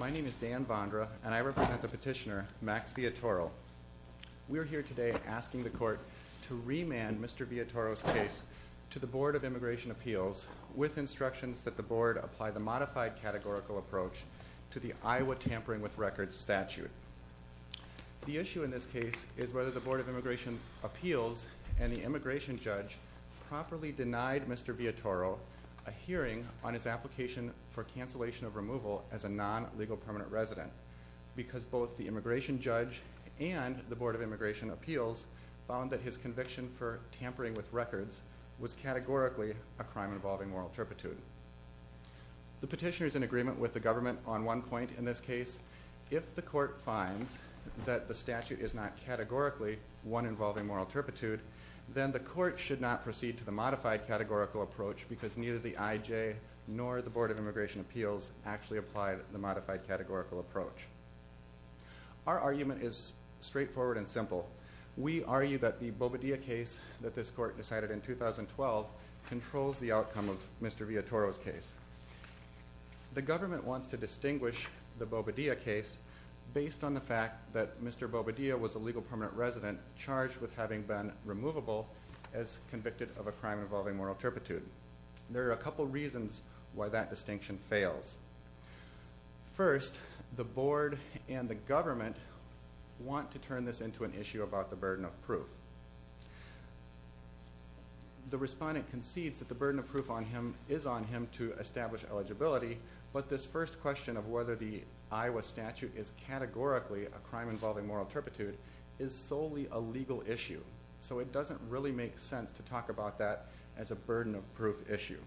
My name is Dan Vondra, and I represent the petitioner, Max Villatoro. We are here today asking the Court to remand Mr. Villatoro's case to the Board of Immigration Appeals with instructions that the Board apply the modified categorical approach to the Iowa Tampering with Records statute. The issue in this case is whether the Board of Immigration Appeals and the immigration judge properly denied Mr. Villatoro a hearing on his application for cancellation of removal as a non-legal permanent resident because both the immigration judge and the Board of Immigration Appeals found that his conviction for tampering with records was categorically a crime involving moral turpitude. The petitioner is in agreement with the government on one point in this case. If the Court finds that the statute is not categorically one involving moral turpitude, then the Court should not proceed to the modified categorical approach because neither the IJ nor the Board of Immigration Appeals actually applied the modified categorical approach. Our argument is straightforward and simple. We argue that the Bobadilla case that this Court decided in 2012 controls the outcome of Mr. Villatoro's case. The government wants to distinguish the Bobadilla case based on the fact that Mr. Bobadilla was a legal permanent resident charged with having been removable as convicted of a crime involving moral turpitude. There are a couple reasons why that distinction fails. First, the Board and the government want to turn this into an issue about the burden of proof. The respondent concedes that the burden of proof is on him to establish eligibility, but this first question of whether the Iowa statute is categorically a crime involving moral turpitude is solely a legal issue. So it doesn't really make sense to talk about that as a burden of proof issue.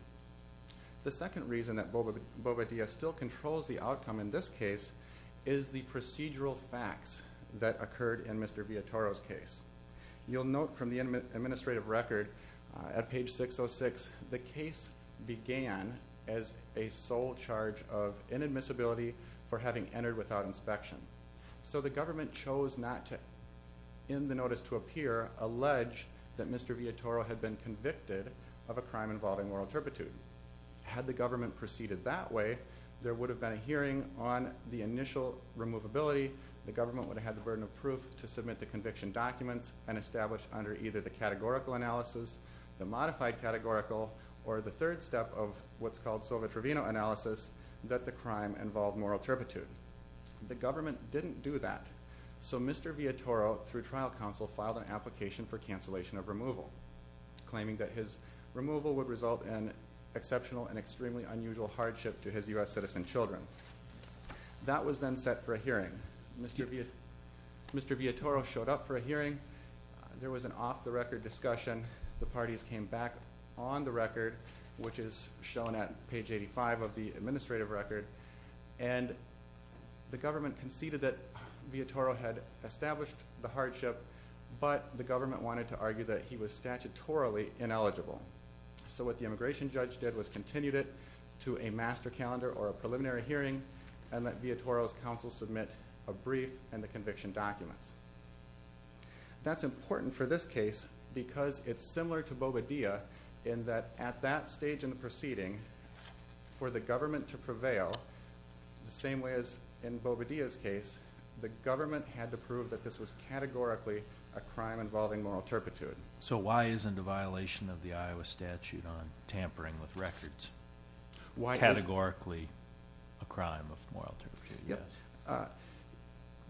The second reason that Bobadilla still controls the outcome in this case is the procedural facts that occurred in Mr. Villatoro's case. You'll note from the administrative record at page 606, the case began as a sole charge of inadmissibility for having entered without inspection. So the government chose not to, in the notice to appear, allege that Mr. Villatoro had been convicted of a crime involving moral turpitude. Had the government proceeded that way, there would have been a hearing on the initial removability, the government would have had the burden of proof to submit the conviction documents and establish under either the categorical analysis, the modified categorical, or the third step of what's called Sova Trevino analysis, that the crime involved moral turpitude. The government didn't do that. So Mr. Villatoro, through trial counsel, filed an application for cancellation of removal, claiming that his removal would result in exceptional and extremely unusual hardship to his U.S. citizen children. That was then set for a hearing. Mr. Villatoro showed up for a hearing. There was an off-the-record discussion. The parties came back on the record, which is shown at page 85 of the administrative record, and the government conceded that Villatoro had established the hardship, but the government wanted to argue that he was statutorily ineligible. So what the immigration judge did was continued it to a master calendar or a preliminary hearing and let Villatoro's counsel submit a brief and the conviction documents. That's important for this case because it's similar to Bobadilla in that at that stage in the proceeding, for the government to prevail the same way as in Bobadilla's case, the government had to prove that this was categorically a crime involving moral turpitude. So why isn't a violation of the Iowa statute on tampering with records categorically a crime of moral turpitude?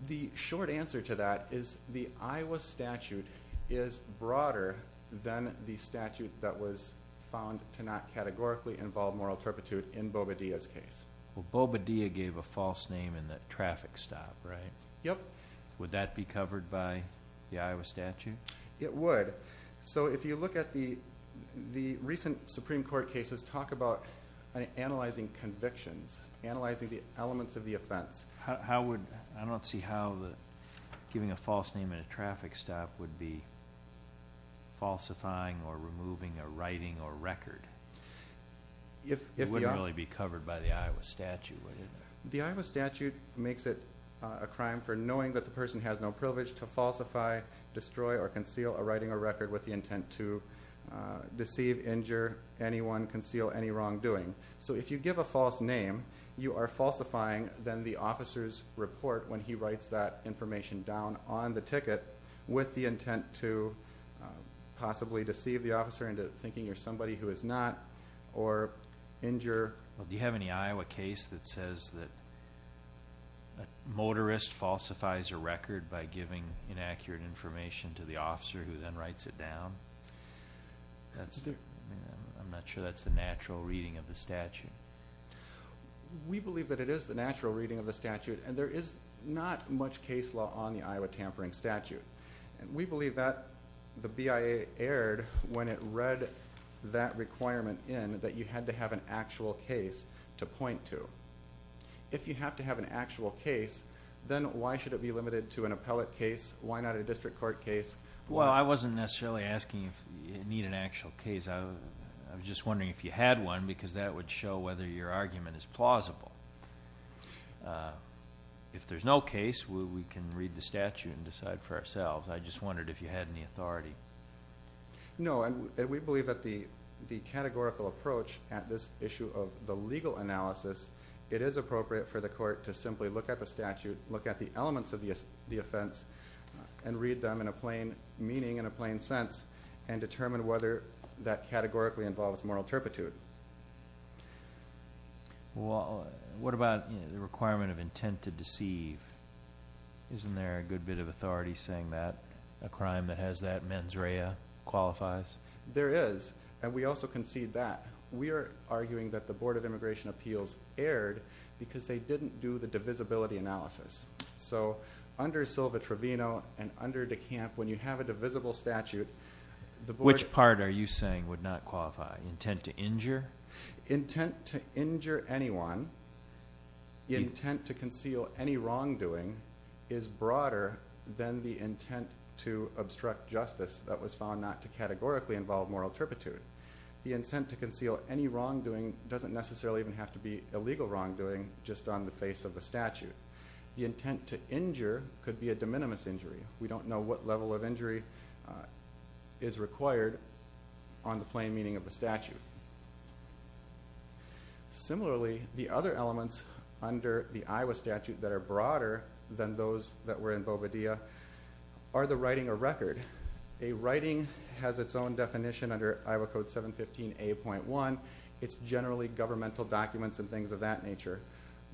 The short answer to that is the Iowa statute is broader than the statute that was found to not categorically involve moral turpitude in Bobadilla's case. Well, Bobadilla gave a false name in that traffic stop, right? Yep. Would that be covered by the Iowa statute? It would. So if you look at the recent Supreme Court cases, talk about analyzing convictions, analyzing the elements of the offense. I don't see how giving a false name in a traffic stop would be falsifying or removing a writing or record. It wouldn't really be covered by the Iowa statute, would it? The Iowa statute makes it a crime for knowing that the person has no privilege to falsify, destroy, or conceal a writing or record with the intent to deceive, injure, anyone, conceal any wrongdoing. So if you give a false name, you are falsifying then the officer's report when he writes that information down on the ticket with the intent to possibly deceive the officer into thinking you're somebody who is not or injure. Do you have any Iowa case that says that a motorist falsifies a record by giving inaccurate information to the officer who then writes it down? I'm not sure that's the natural reading of the statute. We believe that it is the natural reading of the statute, and there is not much case law on the Iowa tampering statute. We believe that the BIA erred when it read that requirement in that you had to have an actual case to point to. If you have to have an actual case, then why should it be limited to an appellate case? Why not a district court case? Well, I wasn't necessarily asking if you need an actual case. I was just wondering if you had one because that would show whether your argument is plausible. If there's no case, we can read the statute and decide for ourselves. I just wondered if you had any authority. No, and we believe that the categorical approach at this issue of the legal analysis, it is appropriate for the court to simply look at the statute, look at the elements of the offense, and read them in a plain meaning and a plain sense and determine whether that categorically involves moral turpitude. Well, what about the requirement of intent to deceive? Isn't there a good bit of authority saying that a crime that has that mens rea qualifies? There is, and we also concede that. We are arguing that the Board of Immigration Appeals erred because they didn't do the divisibility analysis. So under Silva-Trovino and under De Camp, when you have a divisible statute, the board... Which part are you saying would not qualify? Intent to injure? Intent to injure anyone, the intent to conceal any wrongdoing, is broader than the intent to obstruct justice that was found not to categorically involve moral turpitude. The intent to conceal any wrongdoing doesn't necessarily even have to be illegal wrongdoing, just on the face of the statute. The intent to injure could be a de minimis injury. We don't know what level of injury is required on the plain meaning of the statute. Similarly, the other elements under the Iowa statute that are broader than those that were in Boveda are the writing or record. A writing has its own definition under Iowa Code 715A.1. It's generally governmental documents and things of that nature.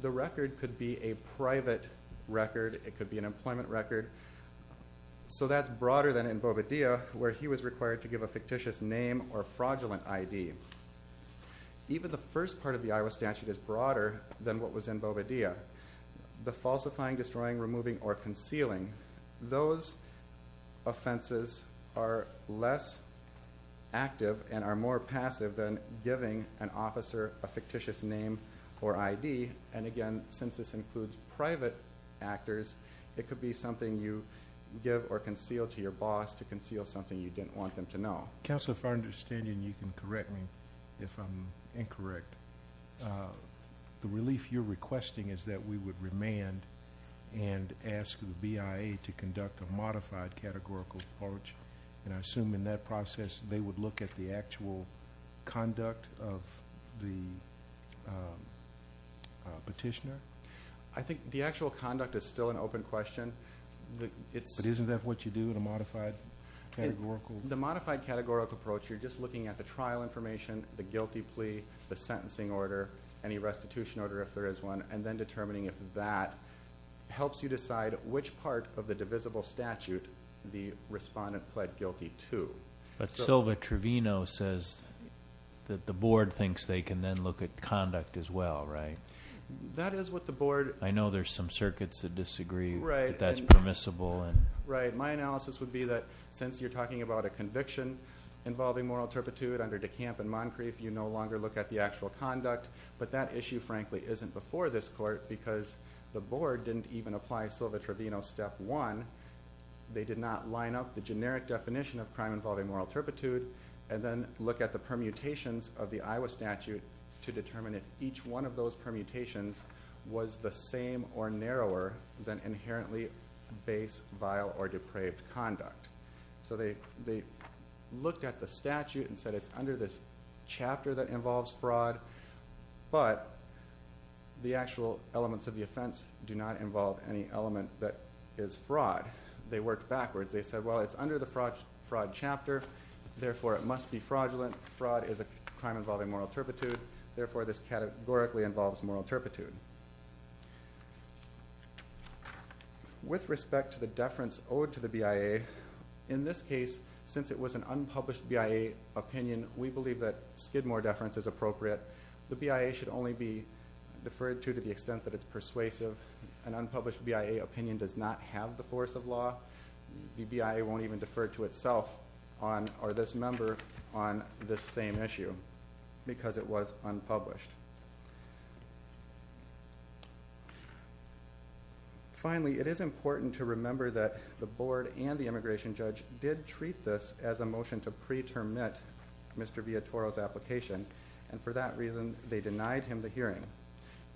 The record could be a private record. It could be an employment record. So that's broader than in Boveda, where he was required to give a fictitious name or fraudulent ID. Even the first part of the Iowa statute is broader than what was in Boveda. The falsifying, destroying, removing, or concealing, those offenses are less active and are more passive than giving an officer a fictitious name or ID. Again, since this includes private actors, it could be something you give or conceal to your boss to conceal something you didn't want them to know. Counselor, if I understand you, and you can correct me if I'm incorrect, the relief you're requesting is that we would remand and ask the BIA to conduct a modified categorical approach. And I assume in that process they would look at the actual conduct of the petitioner? I think the actual conduct is still an open question. But isn't that what you do in a modified categorical approach? In the modified categorical approach, you're just looking at the trial information, the guilty plea, the sentencing order, any restitution order if there is one, and then determining if that helps you decide which part of the divisible statute the respondent pled guilty to. But Sylva Trevino says that the board thinks they can then look at conduct as well, right? That is what the board. I know there's some circuits that disagree that that's permissible. Right. My analysis would be that since you're talking about a conviction involving moral turpitude under De Camp and Moncrief, you no longer look at the actual conduct. But that issue, frankly, isn't before this court because the board didn't even apply Sylva Trevino step one. They did not line up the generic definition of crime involving moral turpitude and then look at the permutations of the Iowa statute to determine if each one of those permutations was the same or narrower than inherently base, vile, or depraved conduct. So they looked at the statute and said it's under this chapter that involves fraud, but the actual elements of the offense do not involve any element that is fraud. They worked backwards. They said, well, it's under the fraud chapter, therefore it must be fraudulent. Fraud is a crime involving moral turpitude, therefore this categorically involves moral turpitude. With respect to the deference owed to the BIA, in this case, since it was an unpublished BIA opinion, we believe that Skidmore deference is appropriate. The BIA should only be deferred to to the extent that it's persuasive. An unpublished BIA opinion does not have the force of law. The BIA won't even defer to itself or this member on this same issue because it was unpublished. Finally, it is important to remember that the board and the immigration judge did treat this as a motion to pre-termit Mr. Villatoro's application, and for that reason they denied him the hearing.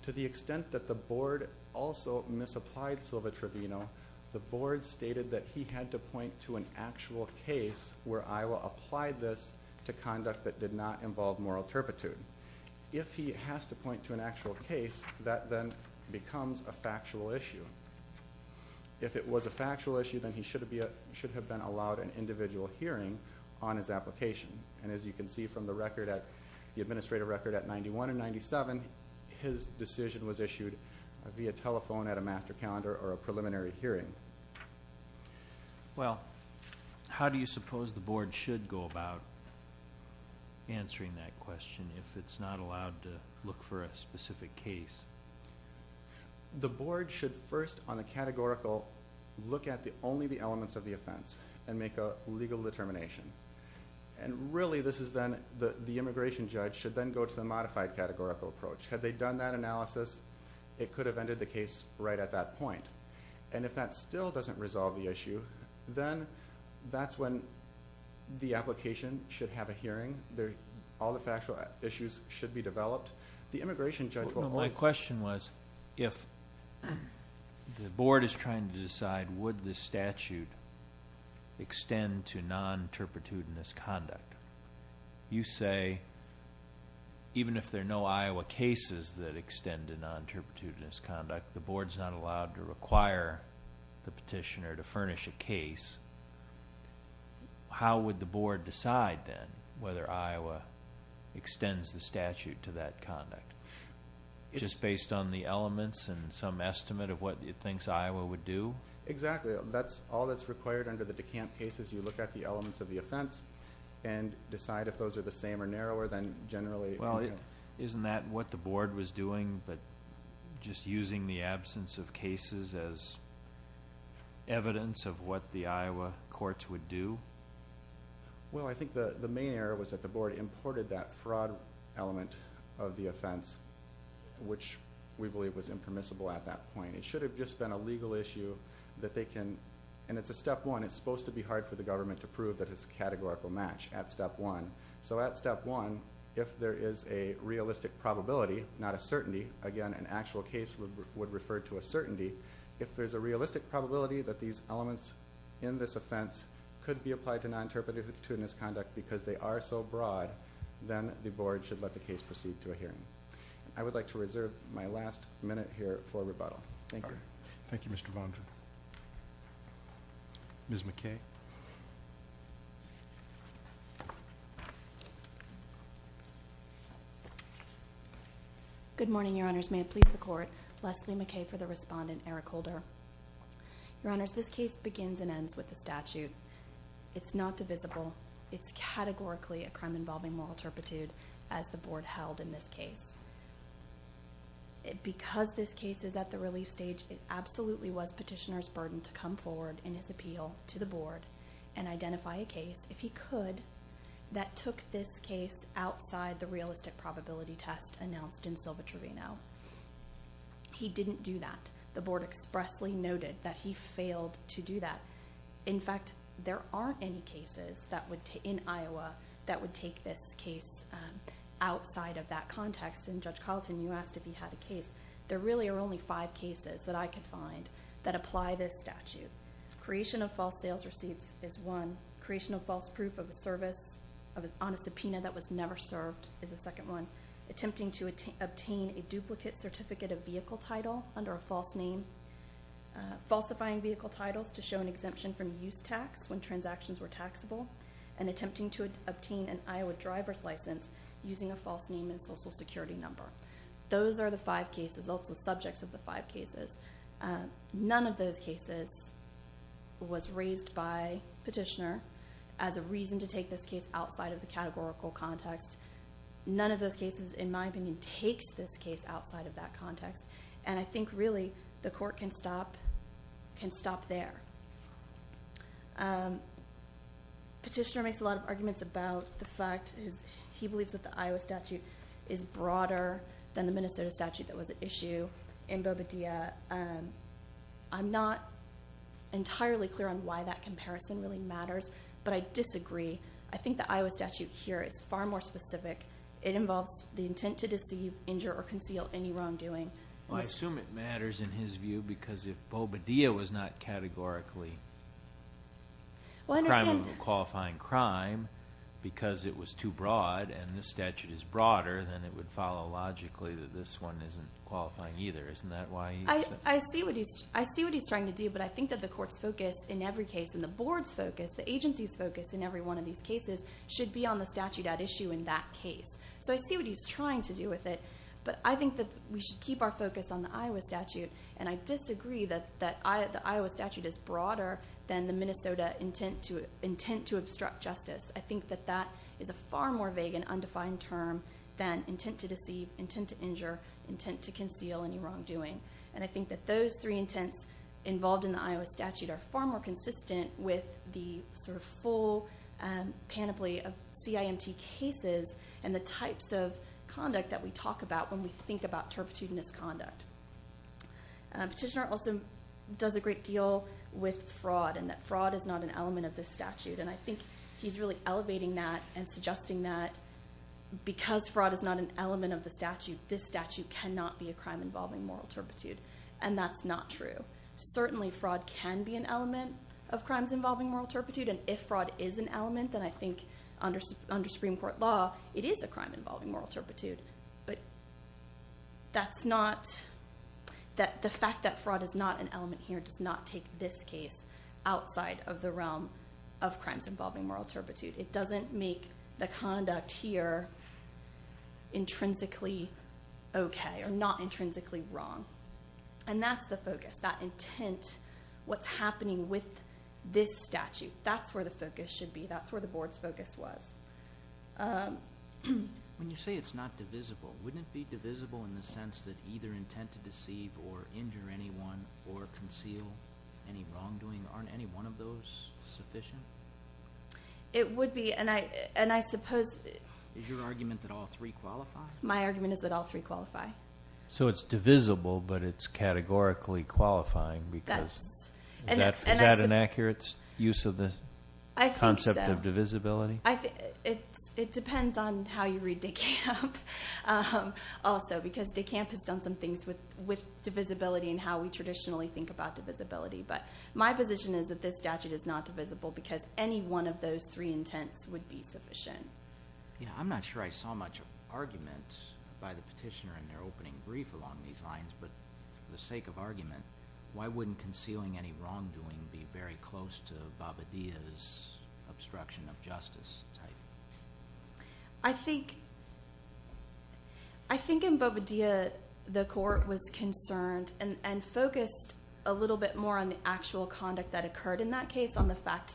To the extent that the board also misapplied Silva-Trevino, the board stated that he had to point to an actual case where Iowa applied this to conduct that did not involve moral turpitude. If he has to point to an actual case, that then becomes a factual issue. If it was a factual issue, then he should have been allowed an individual hearing on his application, and as you can see from the administrative record at 91 and 97, his decision was issued via telephone at a master calendar or a preliminary hearing. Well, how do you suppose the board should go about answering that question if it's not allowed to look for a specific case? The board should first on a categorical look at only the elements of the offense and make a legal determination, and really this is then the immigration judge should then go to the modified categorical approach. Had they done that analysis, it could have ended the case right at that point, and if that still doesn't resolve the issue, then that's when the application should have a hearing. All the factual issues should be developed. The immigration judge will always... My question was if the board is trying to decide would this statute extend to non-turpitudinous conduct, you say even if there are no Iowa cases that extend to non-turpitudinous conduct, the board's not allowed to require the petitioner to furnish a case, how would the board decide then whether Iowa extends the statute to that conduct? Just based on the elements and some estimate of what it thinks Iowa would do? Exactly. That's all that's required under the DeCant case is you look at the elements of the offense and decide if those are the same or narrower than generally. Well, isn't that what the board was doing, but just using the absence of cases as evidence of what the Iowa courts would do? Well, I think the main error was that the board imported that fraud element of the offense, which we believe was impermissible at that point. It should have just been a legal issue that they can... And it's a step one. It's supposed to be hard for the government to prove that it's a categorical match at step one. So at step one, if there is a realistic probability, not a certainty, again, an actual case would refer to a certainty. If there's a realistic probability that these elements in this offense could be applied to non-turpiditudinous conduct because they are so broad, then the board should let the case proceed to a hearing. I would like to reserve my last minute here for rebuttal. Thank you. Thank you, Mr. Vaughn. Ms. McKay. Good morning, Your Honors. May it please the Court. Leslie McKay for the respondent, Eric Holder. Your Honors, this case begins and ends with the statute. It's not divisible. It's categorically a crime involving moral turpitude, as the board held in this case. Because this case is at the relief stage, it absolutely was petitioner's burden to come forward in his appeal to the board and identify a case, if he could, that took this case outside the realistic probability test announced in Silva-Trevino. He didn't do that. The board expressly noted that he failed to do that. In fact, there aren't any cases in Iowa that would take this case outside of that context. And Judge Carlton, you asked if he had a case. There really are only five cases that I could find that apply this statute. Creation of false sales receipts is one. Creation of false proof of a service on a subpoena that was never served is a second one. Attempting to obtain a duplicate certificate of vehicle title under a false name. Falsifying vehicle titles to show an exemption from use tax when transactions were taxable. And attempting to obtain an Iowa driver's license using a false name and social security number. Those are the five cases, also subjects of the five cases. None of those cases was raised by petitioner as a reason to take this case outside of the categorical context. None of those cases, in my opinion, takes this case outside of that context. And I think, really, the court can stop there. Petitioner makes a lot of arguments about the fact. He believes that the Iowa statute is broader than the Minnesota statute that was at issue in Bobadilla. I'm not entirely clear on why that comparison really matters, but I disagree. I think the Iowa statute here is far more specific. It involves the intent to deceive, injure, or conceal any wrongdoing. Well, I assume it matters in his view because if Bobadilla was not categorically a crime of qualifying crime because it was too broad and this statute is broader, then it would follow logically that this one isn't qualifying either. Isn't that why he said that? I see what he's trying to do, but I think that the court's focus in every case and the board's focus, the agency's focus in every one of these cases, should be on the statute at issue in that case. So I see what he's trying to do with it. But I think that we should keep our focus on the Iowa statute, and I disagree that the Iowa statute is broader than the Minnesota intent to obstruct justice. I think that that is a far more vague and undefined term than intent to deceive, intent to injure, intent to conceal any wrongdoing. And I think that those three intents involved in the Iowa statute are far more consistent with the sort of full panoply of CIMT cases and the types of conduct that we talk about when we think about turpitude and misconduct. Petitioner also does a great deal with fraud and that fraud is not an element of this statute, and I think he's really elevating that and suggesting that because fraud is not an element of the statute, this statute cannot be a crime involving moral turpitude, and that's not true. Certainly fraud can be an element of crimes involving moral turpitude, and if fraud is an element, then I think under Supreme Court law it is a crime involving moral turpitude. But that's not that the fact that fraud is not an element here does not take this case outside of the realm of crimes involving moral turpitude. It doesn't make the conduct here intrinsically okay or not intrinsically wrong, and that's the focus. That intent, what's happening with this statute, that's where the focus should be. That's where the Board's focus was. When you say it's not divisible, wouldn't it be divisible in the sense that either intent to deceive or injure anyone or conceal any wrongdoing? Aren't any one of those sufficient? It would be, and I suppose. Is your argument that all three qualify? My argument is that all three qualify. So it's divisible, but it's categorically qualifying because is that an accurate use of the concept of divisibility? I think so. It depends on how you read De Camp also because De Camp has done some things with divisibility and how we traditionally think about divisibility. But my position is that this statute is not divisible because any one of those three intents would be sufficient. I'm not sure I saw much argument by the petitioner in their opening brief along these lines, but for the sake of argument, why wouldn't concealing any wrongdoing be very close to Bobadilla's obstruction of justice type? I think in Bobadilla, the court was concerned and focused a little bit more on the actual conduct that occurred in that case and the fact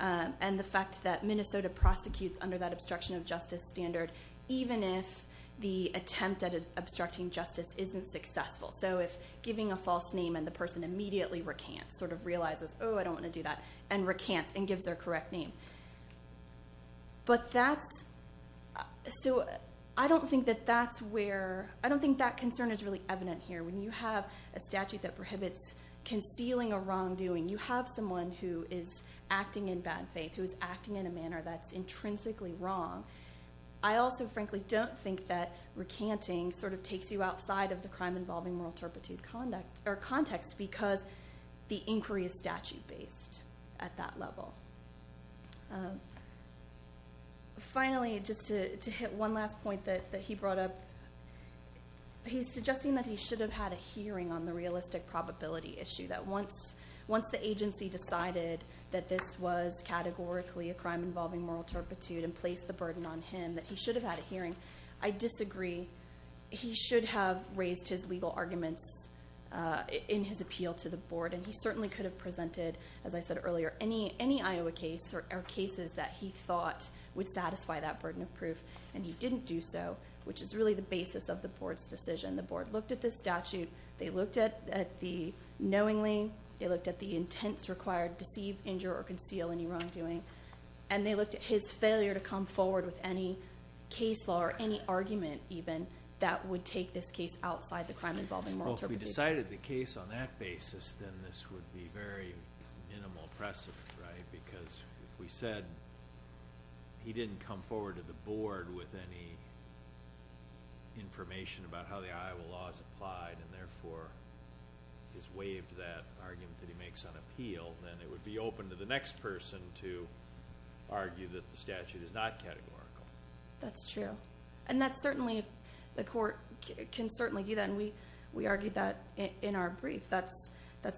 that Minnesota prosecutes under that obstruction of justice standard even if the attempt at obstructing justice isn't successful. So if giving a false name and the person immediately recants, sort of realizes, oh, I don't want to do that, and recants and gives their correct name. I don't think that concern is really evident here. When you have a statute that prohibits concealing a wrongdoing, you have someone who is acting in bad faith, who is acting in a manner that's intrinsically wrong. I also, frankly, don't think that recanting sort of takes you outside of the crime-involving moral turpitude context because the inquiry is statute-based at that level. Finally, just to hit one last point that he brought up, he's suggesting that he should have had a hearing on the realistic probability issue, that once the agency decided that this was categorically a crime-involving moral turpitude and placed the burden on him, that he should have had a hearing. I disagree. He should have raised his legal arguments in his appeal to the board, and he certainly could have presented, as I said earlier, any Iowa case or cases that he thought would satisfy that burden of proof, and he didn't do so, which is really the basis of the board's decision. The board looked at this statute. They looked at it knowingly. They looked at the intents required to deceive, injure, or conceal any wrongdoing, and they looked at his failure to come forward with any case law or any argument even that would take this case outside the crime-involving moral turpitude. Well, if we decided the case on that basis, then this would be very minimal precedent, right? Because we said he didn't come forward to the board with any information about how the Iowa law is applied and, therefore, has waived that argument that he makes on appeal, then it would be open to the next person to argue that the statute is not categorical. That's true. And that's certainly if the court can certainly do that, and we argued that in our brief. That's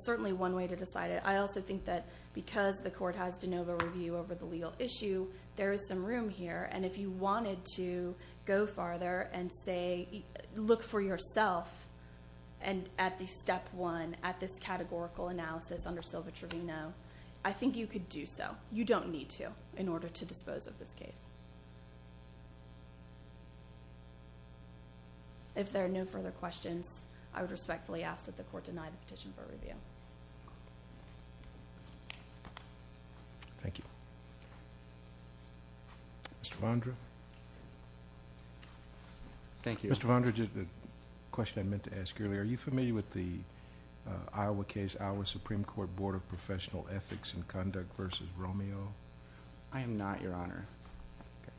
certainly one way to decide it. I also think that because the court has de novo review over the legal issue, there is some room here. And if you wanted to go farther and say look for yourself at the step one, at this categorical analysis under Silva-Trevino, I think you could do so. You don't need to in order to dispose of this case. If there are no further questions, I would respectfully ask that the court deny the petition for review. Thank you. Mr. Vondra. Thank you. Mr. Vondra, the question I meant to ask earlier, are you familiar with the Iowa case, Iowa Supreme Court Board of Professional Ethics and Conduct v. Romeo? I am not, Your Honor. Okay.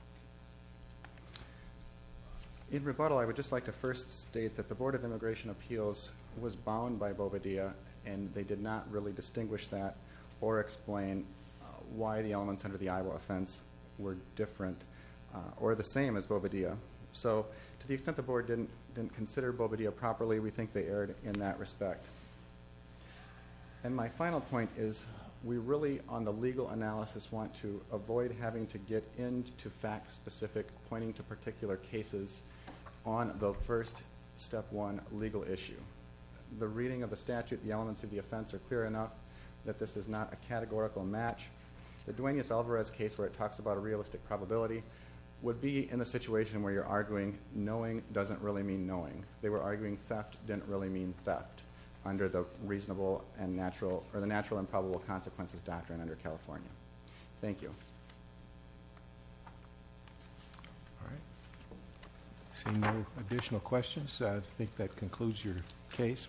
In rebuttal, I would just like to first state that the Board of Immigration Appeals was bound by Boveda, and they did not really distinguish that or explain why the elements under the Iowa offense were different or the same as Boveda. So to the extent the Board didn't consider Boveda properly, we think they erred in that respect. And my final point is we really, on the legal analysis, want to avoid having to get into fact-specific, pointing to particular cases on the first step one legal issue. The reading of the statute, the elements of the offense, are clear enough that this is not a categorical match. The Duaneus Alvarez case, where it talks about a realistic probability, would be in a situation where you're arguing knowing doesn't really mean knowing. They were arguing theft didn't really mean theft under the natural and probable consequences doctrine under California. Thank you. All right. Seeing no additional questions, I think that concludes your case.